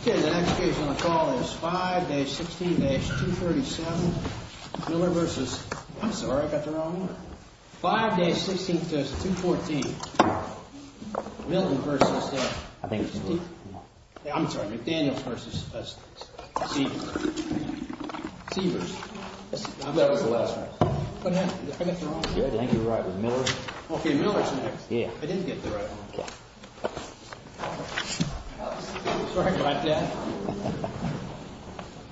Okay, the next case on the call is 5-16-237, Miller v. I'm sorry, I got the wrong one. 5-16-214, Milton v. I'm sorry, McDaniels v. Seavers. I thought it was the last one. Did I get the wrong one? I think you were right with Miller. Okay, Miller's next. I didn't get the right one. Sorry about that.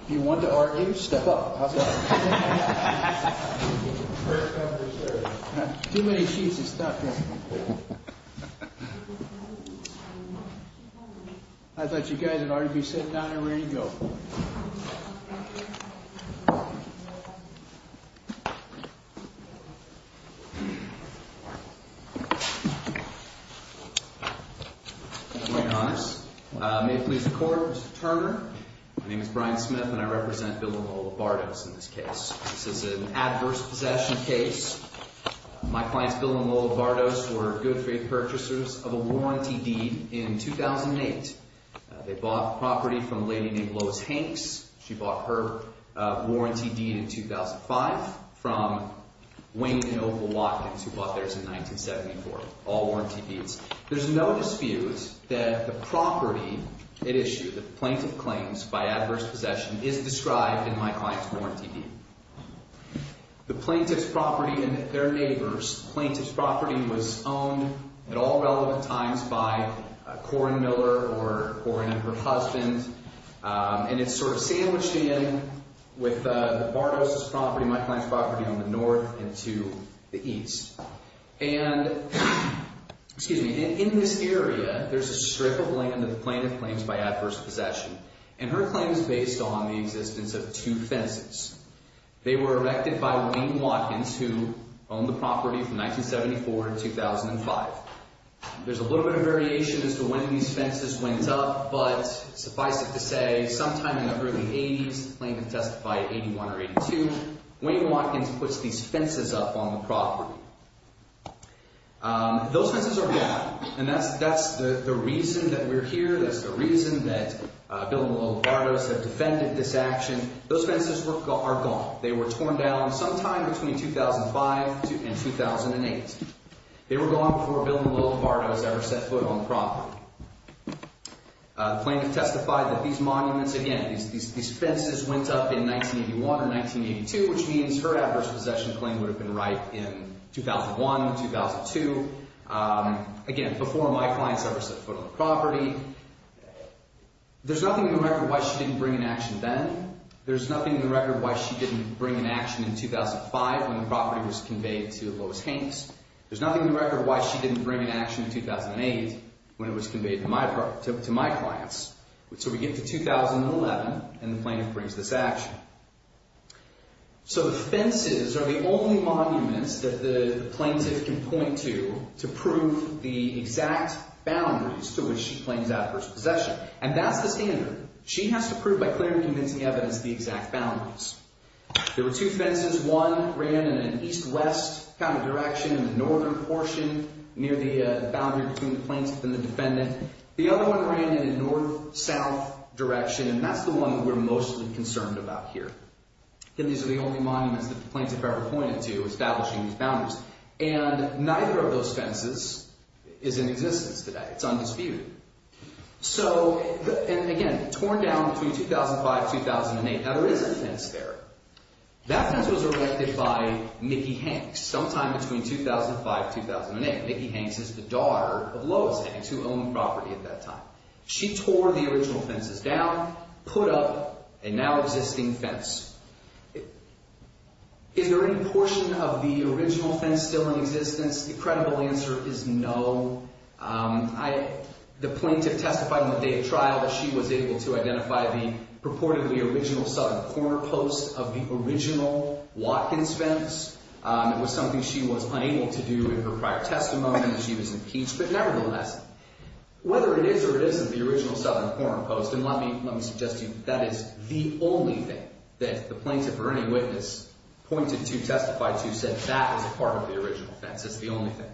If you want to argue, step up. Too many sheets of stuff here. I thought you guys would already be sitting down and ready to go. What's going on is, may it please the court, this is Turner. My name is Brian Smith and I represent Bill and Lola Bardos in this case. This is an adverse possession case. My clients Bill and Lola Bardos were good, free purchasers of a warranty deed in 2008. They bought the property from a lady named Lois Hanks. She bought her warranty deed in 2005 from Wayne and Opal Watkins, who bought theirs in 1974. All warranty deeds. There's no dispute that the property it issued, the plaintiff claims by adverse possession, is described in my client's warranty deed. The plaintiff's property and their neighbor's plaintiff's property was owned at all relevant times by Corrin Miller or her husband. And it's sort of sandwiched in with the Bardos' property, my client's property, on the north and to the east. And in this area, there's a strip of land that the plaintiff claims by adverse possession. And her claim is based on the existence of two fences. They were erected by Wayne Watkins, who owned the property from 1974 to 2005. There's a little bit of variation as to when these fences went up, but suffice it to say, sometime in the early 80s, the plaintiff testified in 81 or 82, Wayne Watkins puts these fences up on the property. Those fences are gone. And that's the reason that we're here. That's the reason that Bill and Willow Bardos have defended this action. Those fences are gone. They were torn down sometime between 2005 and 2008. They were gone before Bill and Willow Bardos ever set foot on the property. The plaintiff testified that these monuments, again, these fences went up in 1981 or 1982, which means her adverse possession claim would have been right in 2001, 2002. Again, before my clients ever set foot on the property. There's nothing in the record why she didn't bring an action then. There's nothing in the record why she didn't bring an action in 2005 when the property was conveyed to Lois Hanks. There's nothing in the record why she didn't bring an action in 2008 when it was conveyed to my clients. So we get to 2011, and the plaintiff brings this action. So the fences are the only monuments that the plaintiff can point to to prove the exact boundaries to which she claims adverse possession. And that's the standard. She has to prove by clear and convincing evidence the exact boundaries. There were two fences. One ran in an east-west kind of direction in the northern portion near the boundary between the plaintiff and the defendant. The other one ran in a north-south direction, and that's the one that we're mostly concerned about here. Again, these are the only monuments that the plaintiff ever pointed to establishing these boundaries. And neither of those fences is in existence today. It's undisputed. So, and again, torn down between 2005 and 2008. Now, there is a fence there. That fence was erected by Mickey Hanks sometime between 2005 and 2008. Mickey Hanks is the daughter of Lois Hanks, who owned the property at that time. She tore the original fences down, put up a now-existing fence. Is there any portion of the original fence still in existence? The credible answer is no. The plaintiff testified on the day of trial that she was able to identify the purportedly original southern corner post of the original Watkins fence. It was something she was unable to do in her prior testimony, and she was impeached. But nevertheless, whether it is or it isn't the original southern corner post, and let me suggest to you that is the only thing that the plaintiff or any witness pointed to, testified to, said that is a part of the original fence. It's the only thing.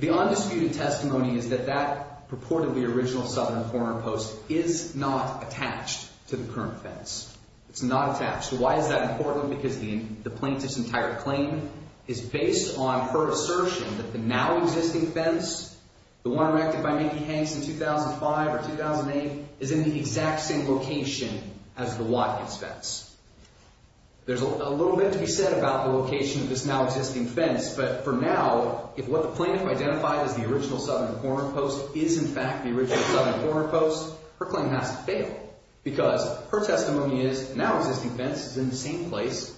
The undisputed testimony is that that purportedly original southern corner post is not attached to the current fence. It's not attached. Why is that important? Because the plaintiff's entire claim is based on her assertion that the now-existing fence, the one erected by Mickey Hanks in 2005 or 2008, is in the exact same location as the Watkins fence. There's a little bit to be said about the location of this now-existing fence, but for now, if what the plaintiff identified as the original southern corner post is in fact the original southern corner post, her claim has to fail. Because her testimony is the now-existing fence is in the same place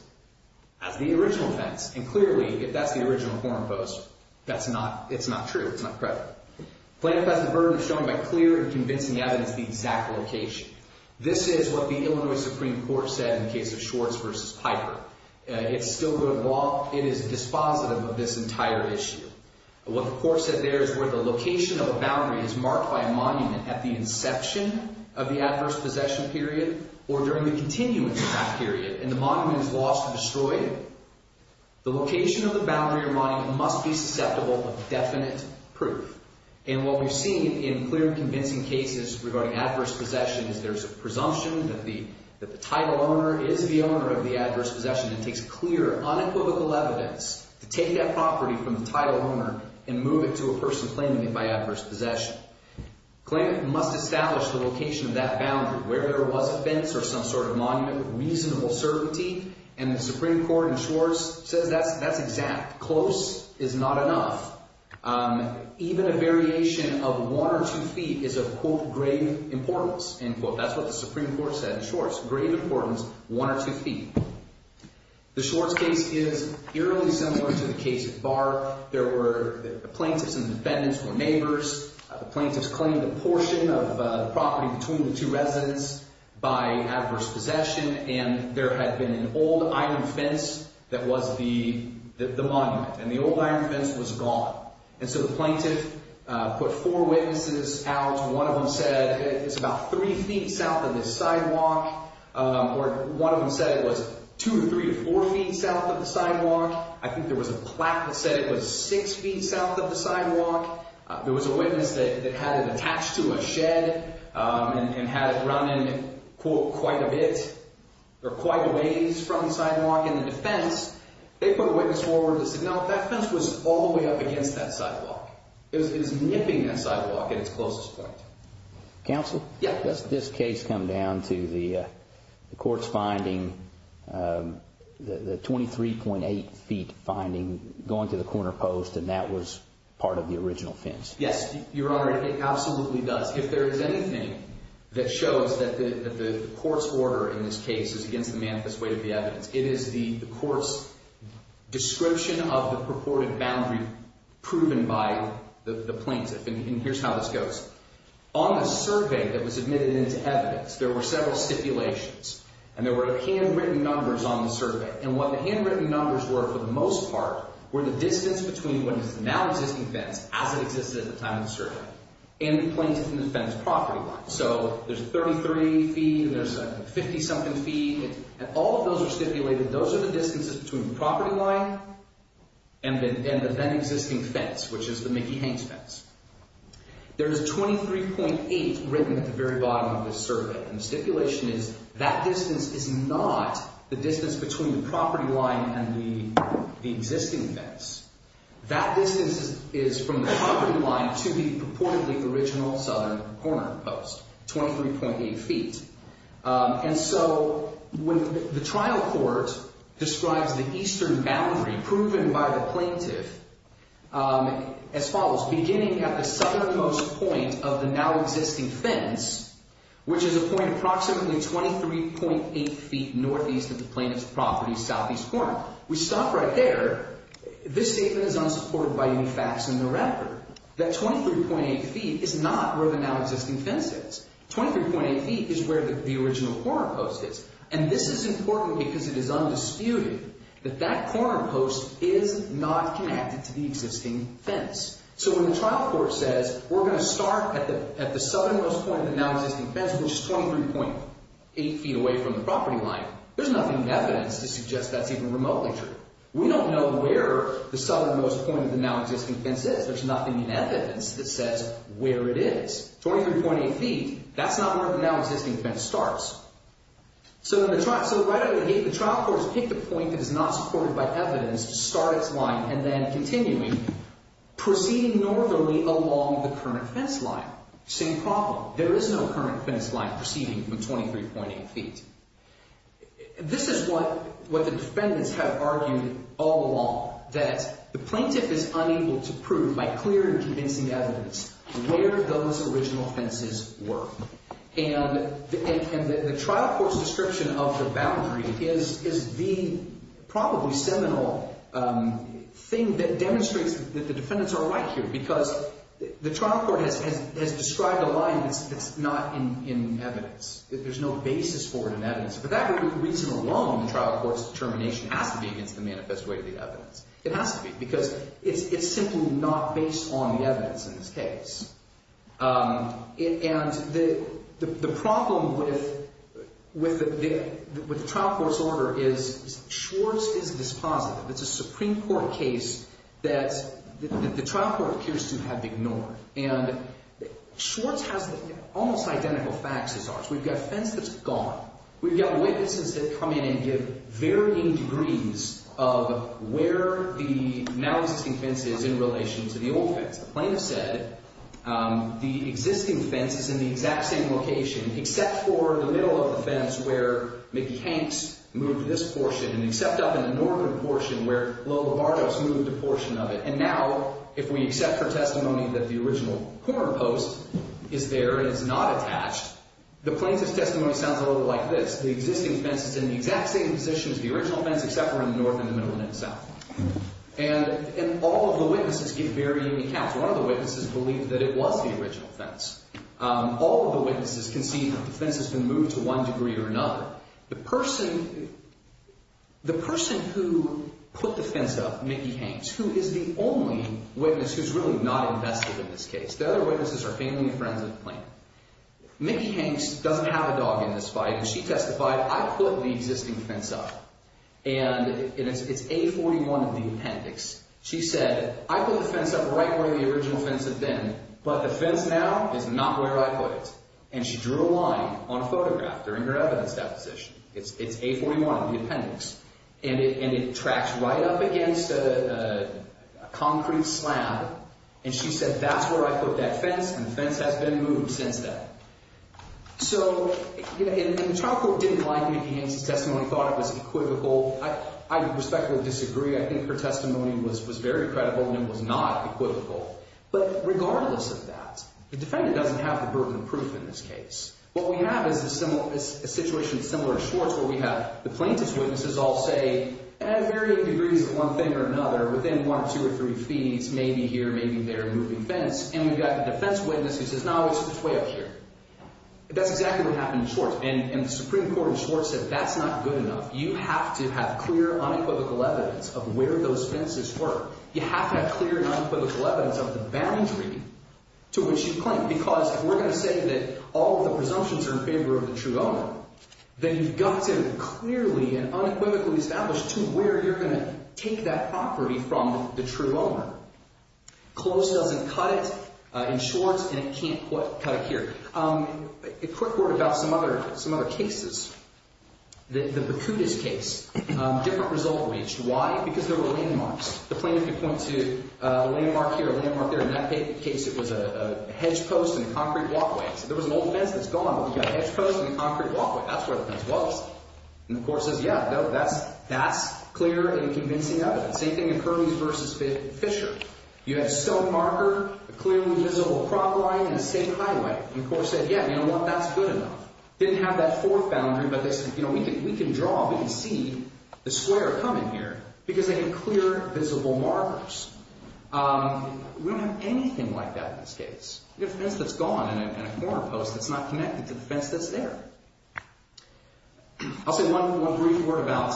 as the original fence. And clearly, if that's the original corner post, it's not true. It's not credible. The plaintiff has the burden of showing by clear and convincing evidence the exact location. This is what the Illinois Supreme Court said in the case of Schwartz v. Piper. It's still good law. It is dispositive of this entire issue. What the court said there is where the location of a boundary is marked by a monument at the inception of the adverse possession period or during the continuance of that period, and the monument is lost or destroyed, the location of the boundary or monument must be susceptible of definite proof. And what we've seen in clear and convincing cases regarding adverse possession is there's a presumption that the title owner is the owner of the adverse possession. It takes clear, unequivocal evidence to take that property from the title owner and move it to a person claiming it by adverse possession. The plaintiff must establish the location of that boundary where there was a fence or some sort of monument with reasonable certainty, and the Supreme Court in Schwartz says that's exact. Close is not enough. Even a variation of one or two feet is of, quote, grave importance, end quote. That's what the Supreme Court said in Schwartz, grave importance, one or two feet. The Schwartz case is eerily similar to the case at Barr. There were plaintiffs and defendants who were neighbors. The plaintiffs claimed a portion of the property between the two residents by adverse possession, and there had been an old iron fence that was the monument. And the old iron fence was gone. And so the plaintiff put four witnesses out. One of them said it's about three feet south of the sidewalk, or one of them said it was two to three to four feet south of the sidewalk. I think there was a plaque that said it was six feet south of the sidewalk. There was a witness that had it attached to a shed and had it running, quote, quite a bit or quite a ways from the sidewalk. And the defense, they put a witness forward that said, no, that fence was all the way up against that sidewalk. It was nipping that sidewalk at its closest point. Counsel? Yeah. Does this case come down to the court's finding, the 23.8 feet finding going to the corner post, and that was part of the original fence? Yes, Your Honor, it absolutely does. If there is anything that shows that the court's order in this case is against the manifest weight of the evidence, it is the court's description of the purported boundary proven by the plaintiff. And here's how this goes. On the survey that was submitted into evidence, there were several stipulations, and there were handwritten numbers on the survey. And what the handwritten numbers were, for the most part, were the distance between what is the now existing fence, as it existed at the time of the survey, and the plaintiff and the fence property line. So there's a 33 feet and there's a 50-something feet, and all of those are stipulated. Those are the distances between the property line and the then existing fence, which is the Mickey Haynes fence. There is 23.8 written at the very bottom of the survey, and the stipulation is that distance is not the distance between the property line and the existing fence. That distance is from the property line to the purportedly original southern corner post, 23.8 feet. And so the trial court describes the eastern boundary proven by the plaintiff as follows. Beginning at the southernmost point of the now existing fence, which is a point approximately 23.8 feet northeast of the plaintiff's property, southeast corner. We stop right there. This statement is unsupported by any facts in the record. That 23.8 feet is not where the now existing fence is. 23.8 feet is where the original corner post is. And this is important because it is undisputed that that corner post is not connected to the existing fence. So when the trial court says we're going to start at the southernmost point of the now existing fence, which is 23.8 feet away from the property line, there's nothing in evidence to suggest that's even remotely true. We don't know where the southernmost point of the now existing fence is. There's nothing in evidence that says where it is. 23.8 feet, that's not where the now existing fence starts. So the trial court has picked a point that is not supported by evidence to start its line and then continuing, proceeding northerly along the current fence line. Same problem. There is no current fence line proceeding from 23.8 feet. This is what the defendants have argued all along, that the plaintiff is unable to prove by clear and convincing evidence where those original fences were. And the trial court's description of the boundary is the probably seminal thing that demonstrates that the defendants are right here because the trial court has described a line that's not in evidence, that there's no basis for it in evidence. For that reason alone, the trial court's determination has to be against the manifest way of the evidence. It has to be because it's simply not based on the evidence in this case. And the problem with the trial court's order is Schwartz is dispositive. It's a Supreme Court case that the trial court appears to have ignored. And Schwartz has almost identical facts as ours. We've got a fence that's gone. We've got witnesses that come in and give varying degrees of where the now existing fence is in relation to the old fence. The plaintiff said the existing fence is in the exact same location except for the middle of the fence where Mickey Hanks moved this portion and except up in the northern portion where Lola Bardos moved a portion of it. And now if we accept her testimony that the original corner post is there and it's not attached, the plaintiff's testimony sounds a little like this. The existing fence is in the exact same position as the original fence except for in the north and the middle and in the south. And all of the witnesses give varying accounts. One of the witnesses believed that it was the original fence. All of the witnesses can see that the fence has been moved to one degree or another. The person who put the fence up, Mickey Hanks, who is the only witness who's really not invested in this case. The other witnesses are family and friends of the plaintiff. Mickey Hanks doesn't have a dog in this fight, and she testified, I put the existing fence up. And it's A41 of the appendix. She said, I put the fence up right where the original fence had been, but the fence now is not where I put it. And she drew a line on a photograph during her evidence deposition. It's A41 of the appendix. And it tracks right up against a concrete slab. And she said that's where I put that fence, and the fence has been moved since then. So the trial court didn't like Mickey Hanks' testimony, thought it was equivocal. I respectfully disagree. I think her testimony was very credible, and it was not equivocal. But regardless of that, the defendant doesn't have the bourbon proof in this case. What we have is a situation similar to Schwartz, where we have the plaintiff's witnesses all say, at varying degrees of one thing or another, within one, two, or three feet, maybe here, maybe there, moving fence. And we've got the defense witness who says, no, it's way up here. That's exactly what happened in Schwartz. And the Supreme Court in Schwartz said that's not good enough. You have to have clear, unequivocal evidence of where those fences were. You have to have clear, unequivocal evidence of the boundary to which you claim. Because if we're going to say that all of the presumptions are in favor of the true owner, then you've got to clearly and unequivocally establish to where you're going to take that property from the true owner. Close doesn't cut it in Schwartz, and it can't cut it here. A quick word about some other cases. The Bacutus case, different result reached. Why? Because there were landmarks. The plaintiff could point to a landmark here, a landmark there. In that case, it was a hedge post and a concrete walkway. So there was an old fence that's gone, but we've got a hedge post and a concrete walkway. That's where the fence was. And the court says, yeah, that's clear and convincing evidence. Same thing in Curleys v. Fisher. You had a stone marker, a clearly visible cropline, and the same highway. And the court said, yeah, you know what? That's good enough. Didn't have that fourth boundary, but they said, you know, we can draw, we can see the square coming here because they had clear, visible markers. We don't have anything like that in this case. You've got a fence that's gone and a corner post that's not connected to the fence that's there. I'll say one brief word about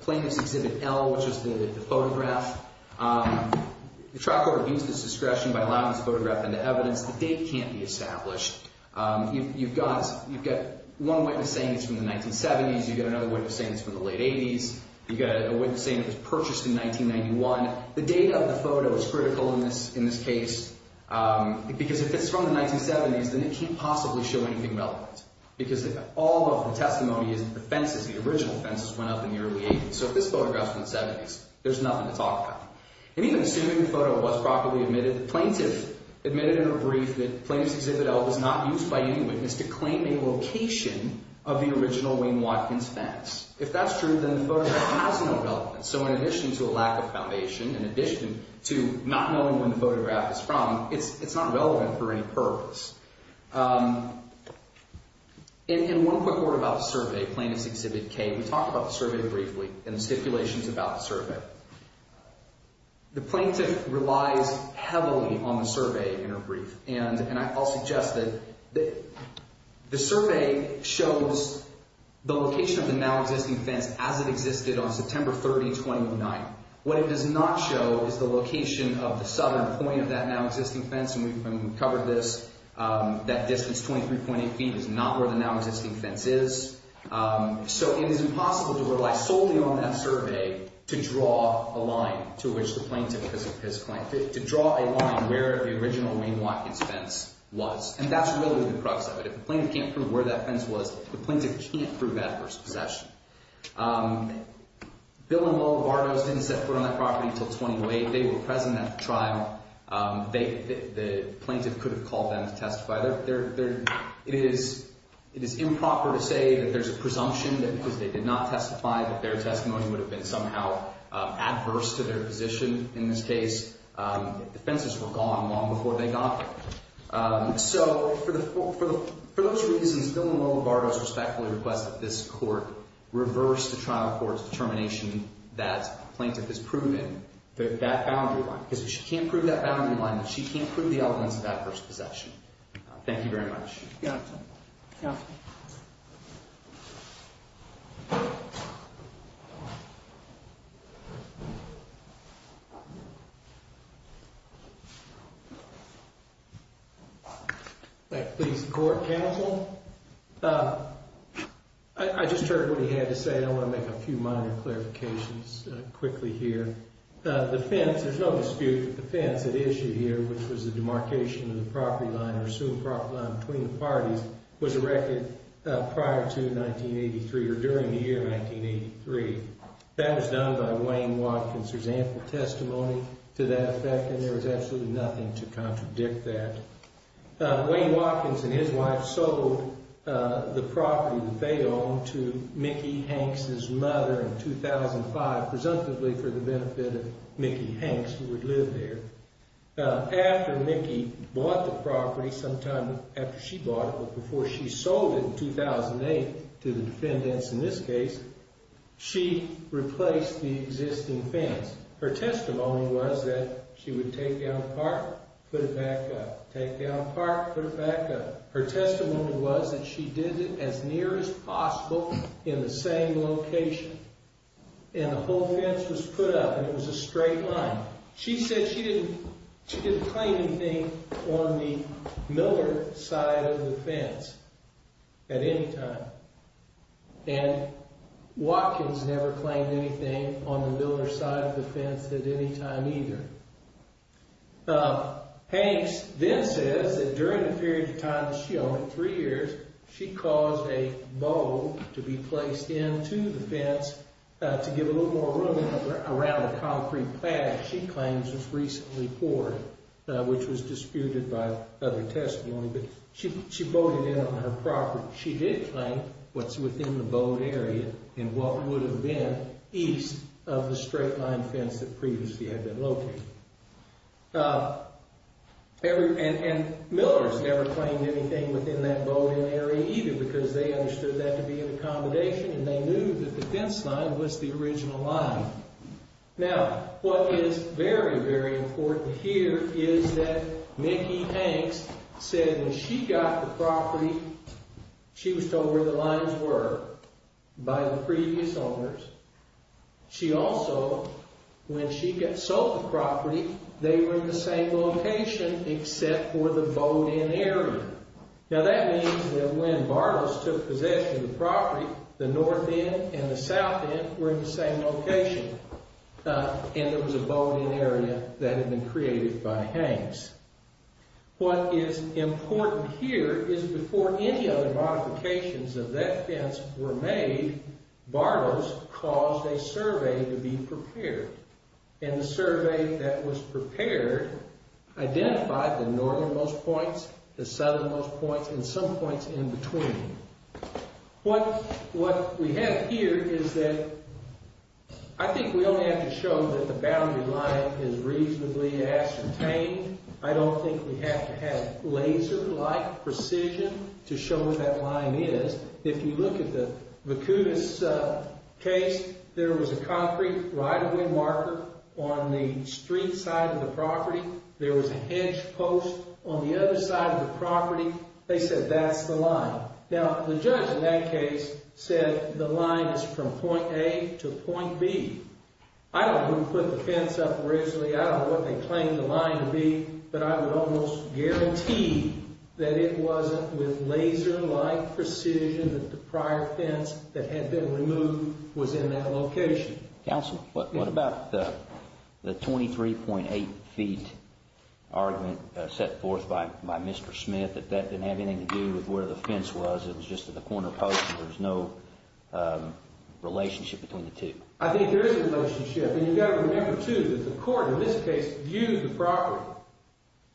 Plaintiff's Exhibit L, which is the photograph. The trial court obtains this discretion by allowing this photograph into evidence. The date can't be established. You've got one witness saying it's from the 1970s. You've got another witness saying it's from the late 80s. You've got a witness saying it was purchased in 1991. The date of the photo is critical in this case because if it's from the 1970s, then they can't possibly show anything relevant because all of the testimony is that the fences, the original fences, went up in the early 80s. So if this photograph's from the 70s, there's nothing to talk about. And even assuming the photo was properly admitted, the plaintiff admitted in her brief that Plaintiff's Exhibit L was not used by any witness to claim a location of the original Wayne Watkins fence. If that's true, then the photograph has no relevance. So in addition to a lack of foundation, in addition to not knowing where the photograph is from, it's not relevant for any purpose. In one quick word about the survey, Plaintiff's Exhibit K, we talked about the survey briefly and the stipulations about the survey. The plaintiff relies heavily on the survey in her brief, and I'll suggest that the survey shows the location of the now-existing fence as it existed on September 30, 2009. What it does not show is the location of the southern point of that now-existing fence. And we've covered this. That distance, 23.8 feet, is not where the now-existing fence is. So it is impossible to rely solely on that survey to draw a line to which the plaintiff has claimed, to draw a line where the original Wayne Watkins fence was. And that's really the crux of it. If the plaintiff can't prove where that fence was, the plaintiff can't prove Edwards' possession. Bill and Lola Bardos didn't set foot on that property until 2008. They were present at the trial. The plaintiff could have called them to testify. It is improper to say that there's a presumption that because they did not testify that their testimony would have been somehow adverse to their position in this case. The fences were gone long before they got there. So for those reasons, Bill and Lola Bardos respectfully request that this court reverse the trial court's determination that the plaintiff has proven that boundary line. Because if she can't prove that boundary line, then she can't prove the evidence of Edwards' possession. Thank you very much. If that pleases the court, counsel, I just heard what he had to say. I want to make a few minor clarifications quickly here. The fence, there's no dispute that the fence at issue here, which was the demarcation of the property line or assumed property line between the parties, was erected prior to 1983 or during the year 1983. That was done by Wayne Watkins. There's ample testimony to that effect, and there was absolutely nothing to contradict that. Wayne Watkins and his wife sold the property that they owned to Mickey Hanks' mother in 2005, presumptively for the benefit of Mickey Hanks, who would live there. After Mickey bought the property sometime after she bought it, or before she sold it in 2008 to the defendants in this case, she replaced the existing fence. Her testimony was that she would take down a part, put it back up, take down a part, put it back up. Her testimony was that she did it as near as possible in the same location, and the whole fence was put up, and it was a straight line. She said she didn't claim anything on the Miller side of the fence at any time. And Watkins never claimed anything on the Miller side of the fence at any time either. Hanks then says that during the period of time that she owned it, three years, she caused a bow to be placed into the fence to give a little more room around the concrete patch she claims was recently poured, which was disputed by other testimony. But she bowed it in on her property. She did claim what's within the bowed area, and what would have been east of the straight line fence that previously had been located. And Miller's never claimed anything within that bowed in area either, because they understood that to be an accommodation, and they knew that the fence line was the original line. Now, what is very, very important to hear is that Mickey Hanks said when she got the property, she was told where the lines were by the previous owners. She also, when she got sold the property, they were in the same location except for the bowed in area. Now that means that when Bartles took possession of the property, the north end and the south end were in the same location, and there was a bowed in area that had been created by Hanks. What is important here is before any other modifications of that fence were made, Bartles caused a survey to be prepared, and the survey that was prepared identified the northernmost points, the southernmost points, and some points in between. What we have here is that I think we only have to show that the boundary line is reasonably ascertained. I don't think we have to have laser-like precision to show what that line is. If you look at the Vicudis case, there was a concrete right-of-way marker on the street side of the property. There was a hedge post on the other side of the property. They said that's the line. Now, the judge in that case said the line is from point A to point B. I don't know who put the fence up originally. I don't know what they claimed the line to be, but I would almost guarantee that it wasn't with laser-like precision that the prior fence that had been removed was in that location. Counsel, what about the 23.8 feet argument set forth by Mr. Smith that that didn't have anything to do with where the fence was? It was just at the corner post, and there was no relationship between the two? I think there is a relationship, and you've got to remember, too, that the court in this case viewed the property,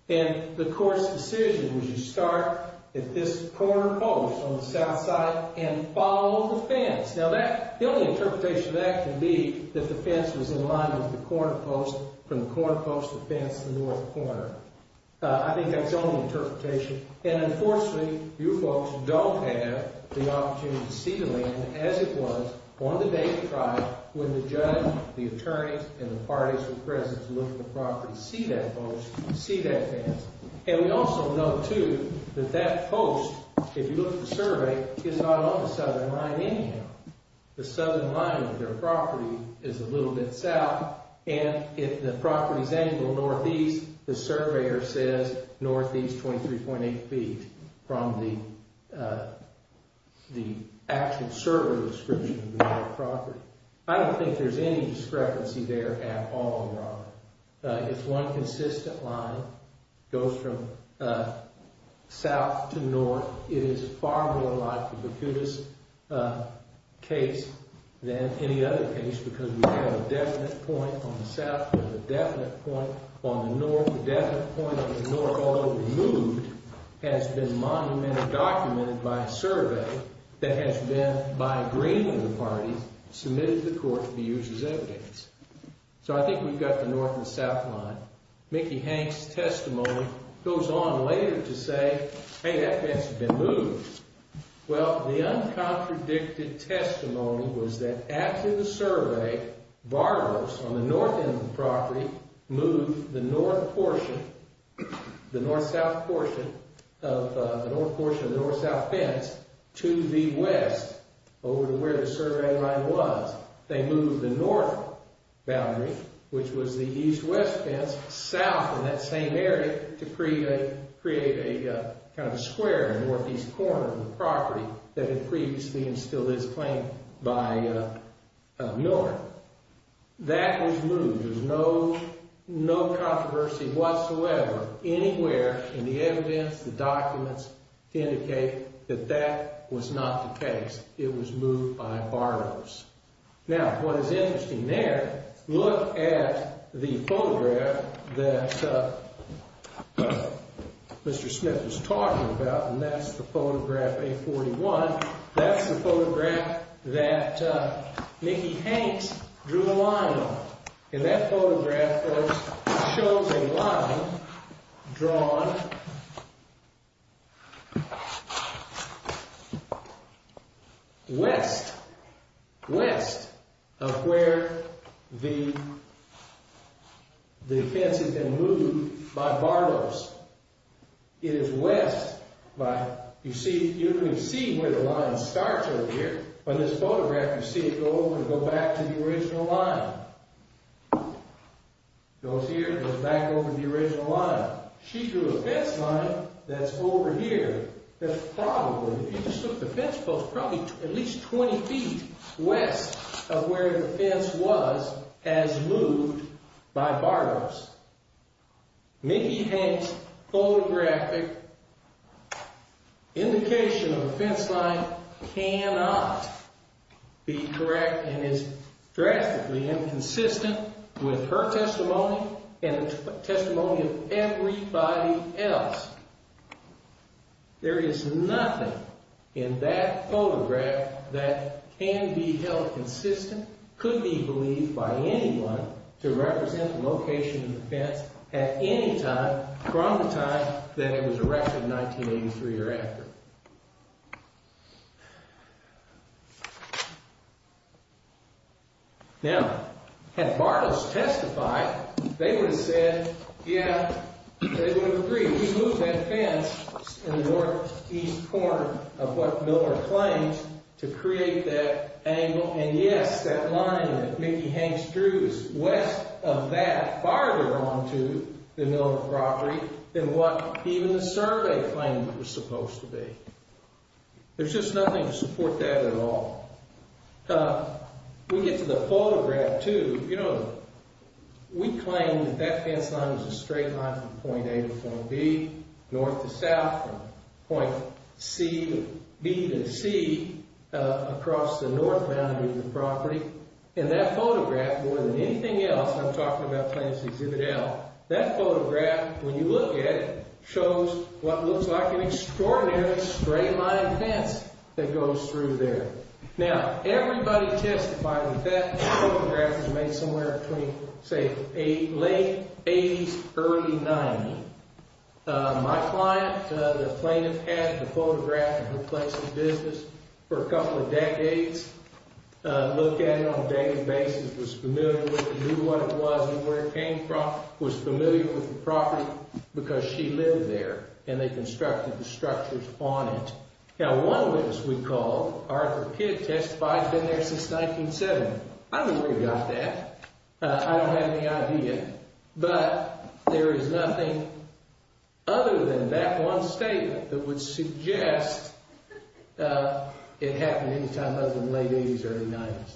and the court's decision was you start at this corner post on the south side and follow the fence. Now, the only interpretation of that can be that the fence was in line with the corner post from the corner post to the fence to the north corner. I think that's the only interpretation. And, unfortunately, you folks don't have the opportunity to see the land as it was on the day of the trial when the judge, the attorneys, and the parties were present to look at the property, see that post, see that fence. And we also know, too, that that post, if you look at the survey, is not on the southern line anyhow. The southern line of their property is a little bit south, and if the property is angled northeast, the surveyor says northeast 23.8 feet from the actual survey description of the property. I don't think there's any discrepancy there at all, Robert. It's one consistent line. It goes from south to north. It is far more like the Bacutus case than any other case because we have a definite point on the south and a definite point on the north. The definite point on the north, although removed, has been monumentally documented by a survey that has been, by agreement of the parties, submitted to the court to be used as evidence. So I think we've got the north and south line. Mickey Hanks' testimony goes on later to say, hey, that fence has been moved. Well, the uncontradicted testimony was that after the survey, borrowers on the north end of the property moved the north portion, the north-south portion of the north-south fence to the west over to where the survey line was. They moved the north boundary, which was the east-west fence, south in that same area to create a kind of a square in the northeast corner of the property that had previously instilled this claim by Miller. That was moved. There's no controversy whatsoever anywhere in the evidence, the documents, to indicate that that was not the case. It was moved by borrowers. Now, what is interesting there, look at the photograph that Mr. Smith was talking about, and that's the photograph A41. That's the photograph that Mickey Hanks drew a line on. And that photograph, folks, shows a line drawn west, west of where the fence had been moved by borrowers. It is west. You can see where the line starts over here. On this photograph, you see it go over and go back to the original line. It goes here, it goes back over to the original line. She drew a fence line that's over here that's probably, if you just look at the fence post, probably at least 20 feet west of where the fence was as moved by borrowers. Mickey Hanks' photographic indication of a fence line cannot be correct and is drastically inconsistent with her testimony and the testimony of everybody else. There is nothing in that photograph that can be held consistent, could be believed by anyone to represent the location of the fence at any time from the time that it was erected in 1983 or after. Now, had Bartles testified, they would have said, yeah, they would have agreed. We moved that fence in the northeast corner of what Miller claims to create that angle. And yes, that line that Mickey Hanks drew is west of that farther on to the Miller property than what even the survey claimed it was supposed to be. There's just nothing to support that at all. We get to the photograph, too. You know, we claim that that fence line was a straight line from point A to point B, north to south, from point B to C across the north boundary of the property. And that photograph, more than anything else, I'm talking about Plants Exhibit L, that photograph, when you look at it, shows what looks like an extraordinary straight-line fence that goes through there. Now, everybody testified that that photograph was made somewhere between, say, late 80s, early 90s. My client, the plaintiff, had the photograph in her place of business for a couple of decades, looked at it on a daily basis, was familiar with it, knew what it was and where it came from, was familiar with the property because she lived there, and they constructed the structures on it. Now, one witness we called, Arthur Kidd, testified he'd been there since 1970. I don't know where he got that. I don't have any idea. But there is nothing other than that one statement that would suggest it happened any time other than late 80s, early 90s.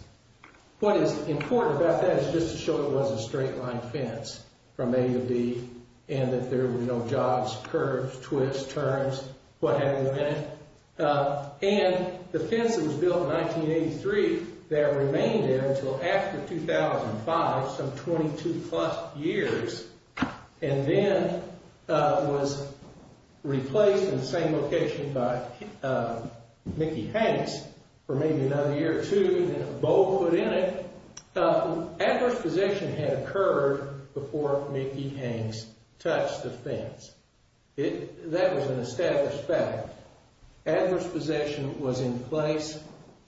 What is important about that is just to show it was a straight-line fence from A to B and that there were no jobs, curves, twists, turns, what have you in it. And the fence that was built in 1983, that remained there until after 2005, some 22-plus years, and then was replaced in the same location by Mickey Hanks for maybe another year or two, then a bowl put in it. Adverse possession had occurred before Mickey Hanks touched the fence. That was an established fact. Adverse possession was in place.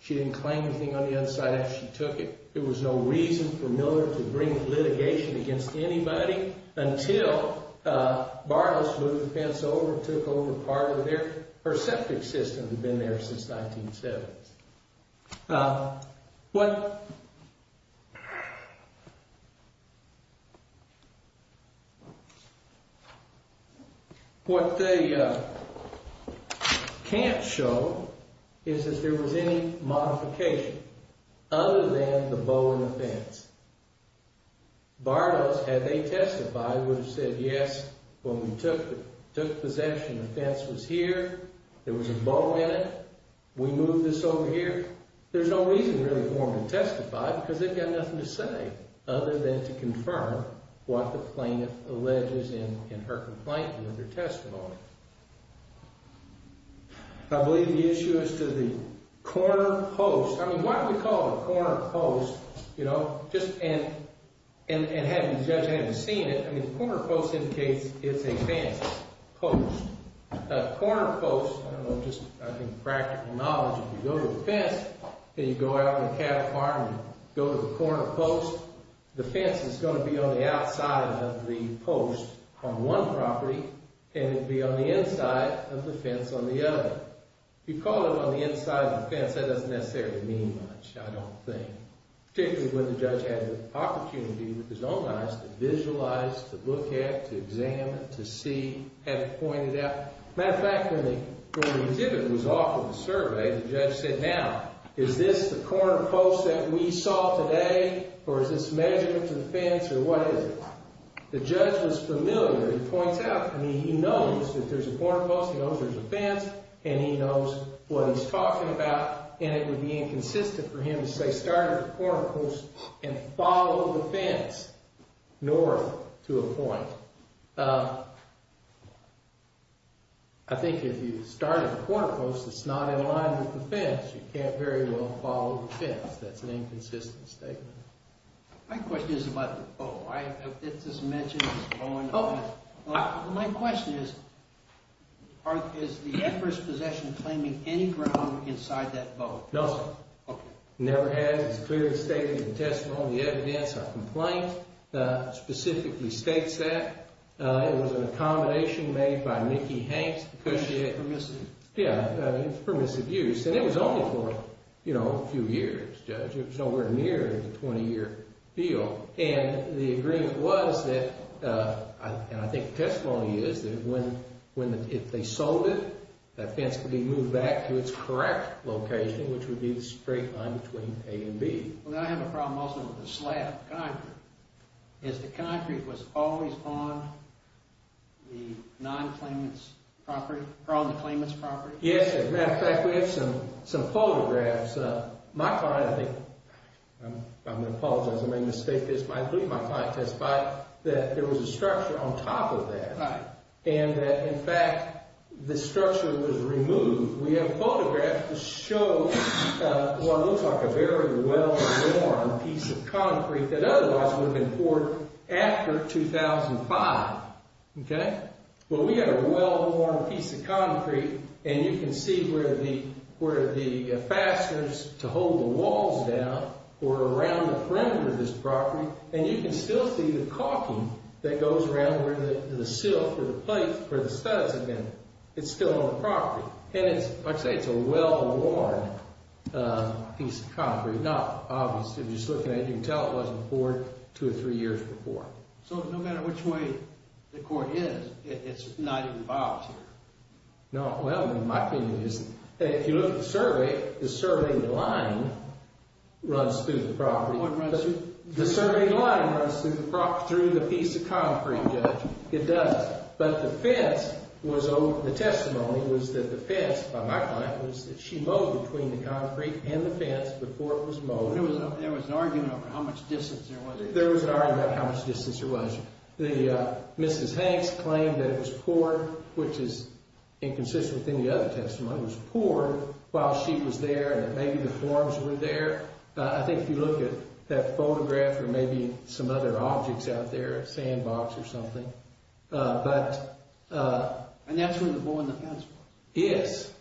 She didn't claim anything on the other side after she took it. There was no reason for Miller to bring litigation against anybody until Barnos moved the fence over and took over part of it. Her septic system had been there since 1970. What they can't show is that there was any modification other than the bowl in the fence. Barnos, had they testified, would have said, yes, when we took possession, the fence was here, there was a bowl in it, we moved this over here. There's no reason really for them to testify because they've got nothing to say other than to confirm what the plaintiff alleges in her complaint and in their testimony. I believe the issue is to the corner post. I mean, why do we call it a corner post, you know, and having judged I haven't seen it, I mean, the corner post indicates it's a fence post. A corner post, I don't know, just I think practical knowledge, if you go to the fence, and you go out in the cattle farm and you go to the corner post, the fence is going to be on the outside of the post on one property and it'll be on the inside of the fence on the other. If you call it on the inside of the fence, that doesn't necessarily mean much, I don't think. Particularly when the judge had the opportunity with his own eyes to visualize, to look at, to examine, to see, have it pointed out. Matter of fact, when the exhibit was off of the survey, the judge said, now, is this the corner post that we saw today or is this measurement to the fence or what is it? The judge was familiar. He points out, I mean, he knows that there's a corner post, he knows there's a fence, and he knows what he's talking about, and it would be inconsistent for him to say start at the corner post and follow the fence north to a point. I think if you start at the corner post that's not in line with the fence, you can't very well follow the fence. That's an inconsistent statement. My question is about the bow. My question is, is the emperor's possession claiming any ground inside that bow? No, sir. Never has. It's clearly stated in the testimony evidence. Our complaint specifically states that. It was an accommodation made by Mickey Hanks, the cushy head. Permissive. Yeah, it was permissive use, and it was only for a few years, Judge. It was nowhere near the 20-year deal, and the agreement was that, and I think the testimony is that if they sold it, that fence could be moved back to its correct location, which would be the straight line between A and B. I have a problem also with the slab of concrete. Is the concrete was always on the non-claimant's property, or on the claimant's property? Yes, as a matter of fact, we have some photographs. My client, I think, I'm going to apologize if I make a mistake, but I believe my client testified that there was a structure on top of that, and that, in fact, the structure was removed. We have photographs to show what looks like a very well-worn piece of concrete that otherwise would have been poured after 2005, okay? Well, we had a well-worn piece of concrete, and you can see where the fasteners to hold the walls down were around the perimeter of this property, and you can still see the caulking that goes around where the sill for the plates for the studs have been. It's still on the property, and it's, like I say, it's a well-worn piece of concrete. Now, obviously, if you just look at it, you can tell it wasn't poured two or three years before. So no matter which way the court is, it's not even filed here? No, well, in my opinion, it isn't. If you look at the survey, the survey line runs through the property. The survey line runs through the piece of concrete, Judge. It does, but the fence was over. The testimony was that the fence, by my client, was that she mowed between the concrete and the fence before it was mowed. There was an argument over how much distance there was. There was an argument about how much distance there was. Mrs. Hanks claimed that it was poured, which is inconsistent with any other testimony. It was poured while she was there, and maybe the forms were there. I think if you look at that photograph, there may be some other objects out there, a sandbox or something. And that's when the bull in the fence was. Yes.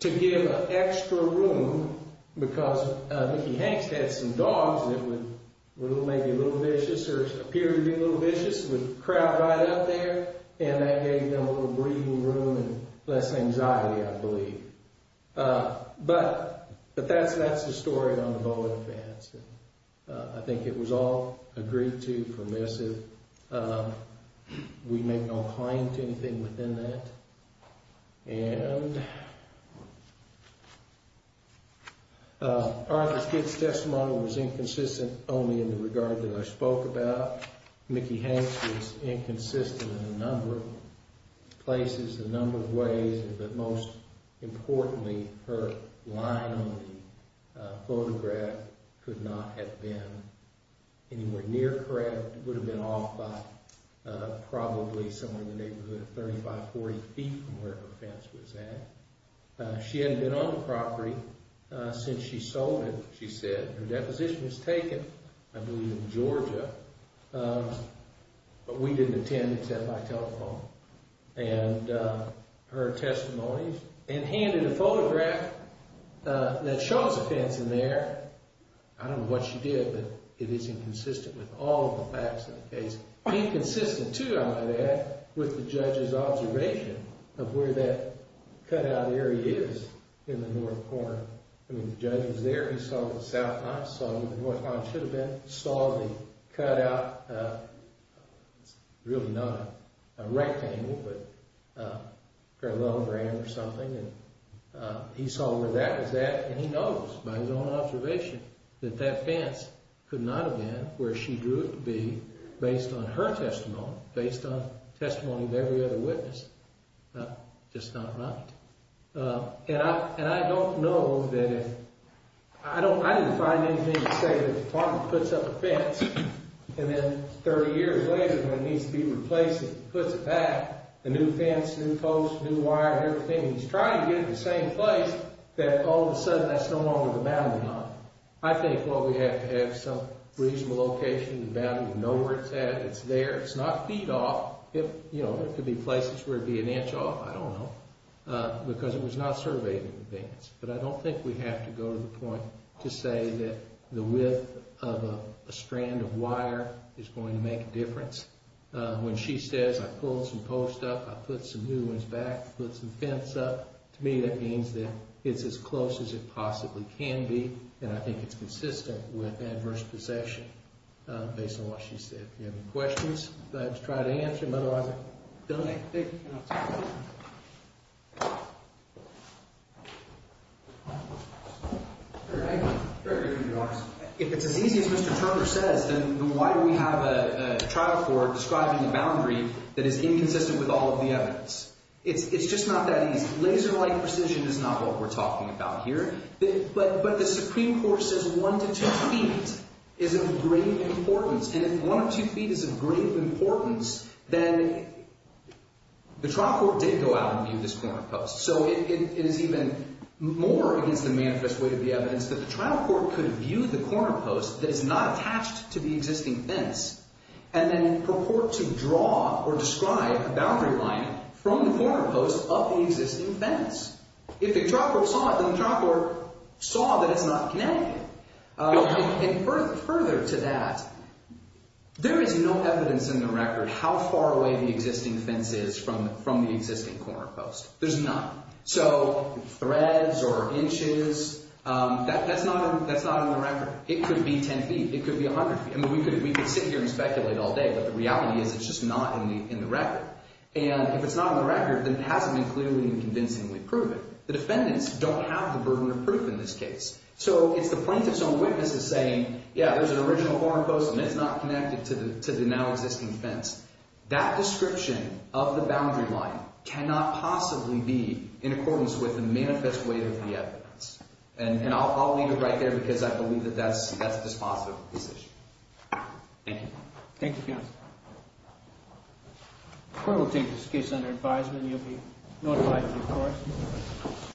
To give an extra room, because Mickey Hanks had some dogs that were maybe a little vicious or appeared to be a little vicious, would crowd right up there, and that gave them a little breathing room and less anxiety, I believe. But that's the story on the bull in the fence. I think it was all agreed to, permissive. We make no claim to anything within that. Arthur's kid's testimony was inconsistent only in the regard that I spoke about. Mickey Hanks was inconsistent in a number of places, a number of ways, but most importantly, her line on the photograph could not have been anywhere near correct. It would have been off by probably somewhere in the neighborhood of 35, 40 feet from where her fence was at. She hadn't been on the property since she sold it, she said. Her deposition was taken, I believe in Georgia, but we didn't attend except by telephone. And her testimony, and handed a photograph that shows a fence in there. I don't know what she did, but it is inconsistent with all the facts of the case. Inconsistent, too, I might add, with the judge's observation of where that cutout area is in the north corner. I mean, the judge was there, he saw the south line, saw where the north line should have been, saw the cutout. It's really not a rectangle, but a long ram or something. He saw where that was at, and he knows, by his own observation, that that fence could not have been where she drew it to be based on her testimony, based on testimony of every other witness. Just not right. And I don't know that if... I didn't find anything to say that the department puts up a fence and then 30 years later, when it needs to be replaced, it puts it back, the new fence, new post, new wire, everything. He's trying to get it to the same place, that all of a sudden that's no longer the boundary line. I think, well, we have to have some reasonable location, the boundary, we know where it's at, it's there. It's not feet off. There could be places where it'd be an inch off, I don't know, because it was not surveyed in advance. But I don't think we have to go to the point to say that the width of a strand of wire is going to make a difference. When she says, I pulled some post up, I put some new ones back, put some fence up, to me that means that it's as close as it possibly can be, and I think it's consistent with adverse possession, based on what she said. If you have any questions, I'd like to try to answer them, otherwise I can donate. Thank you. Very briefly, Your Honor, if it's as easy as Mr. Turner says, then why do we have a trial court describing a boundary that is inconsistent with all of the evidence? It's just not that easy. Laser-like precision is not what we're talking about here. But the Supreme Court says one to two feet is of grave importance, and if one to two feet is of grave importance, then the trial court did go out and view this corner post. So it is even more against the manifest way of the evidence that the trial court could view the corner post that is not attached to the existing fence and then purport to draw or describe a boundary line from the corner post of the existing fence. If the trial court saw it, then the trial court saw that it's not connected. And further to that, there is no evidence in the record how far away the existing fence is from the existing corner post. There's none. So threads or inches, that's not on the record. It could be 10 feet. It could be 100 feet. I mean, we could sit here and speculate all day, but the reality is it's just not in the record. And if it's not on the record, then it hasn't been clearly and convincingly proven. The defendants don't have the burden of proof in this case. So it's the plaintiff's own witnesses saying, yeah, there's an original corner post, and it's not connected to the now existing fence. That description of the boundary line cannot possibly be in accordance with the manifest weight of the evidence. And I'll leave it right there, because I believe that that's dispositive of this issue. Thank you. Thank you, counsel. The court will take this case under advisement. You'll be notified, of course.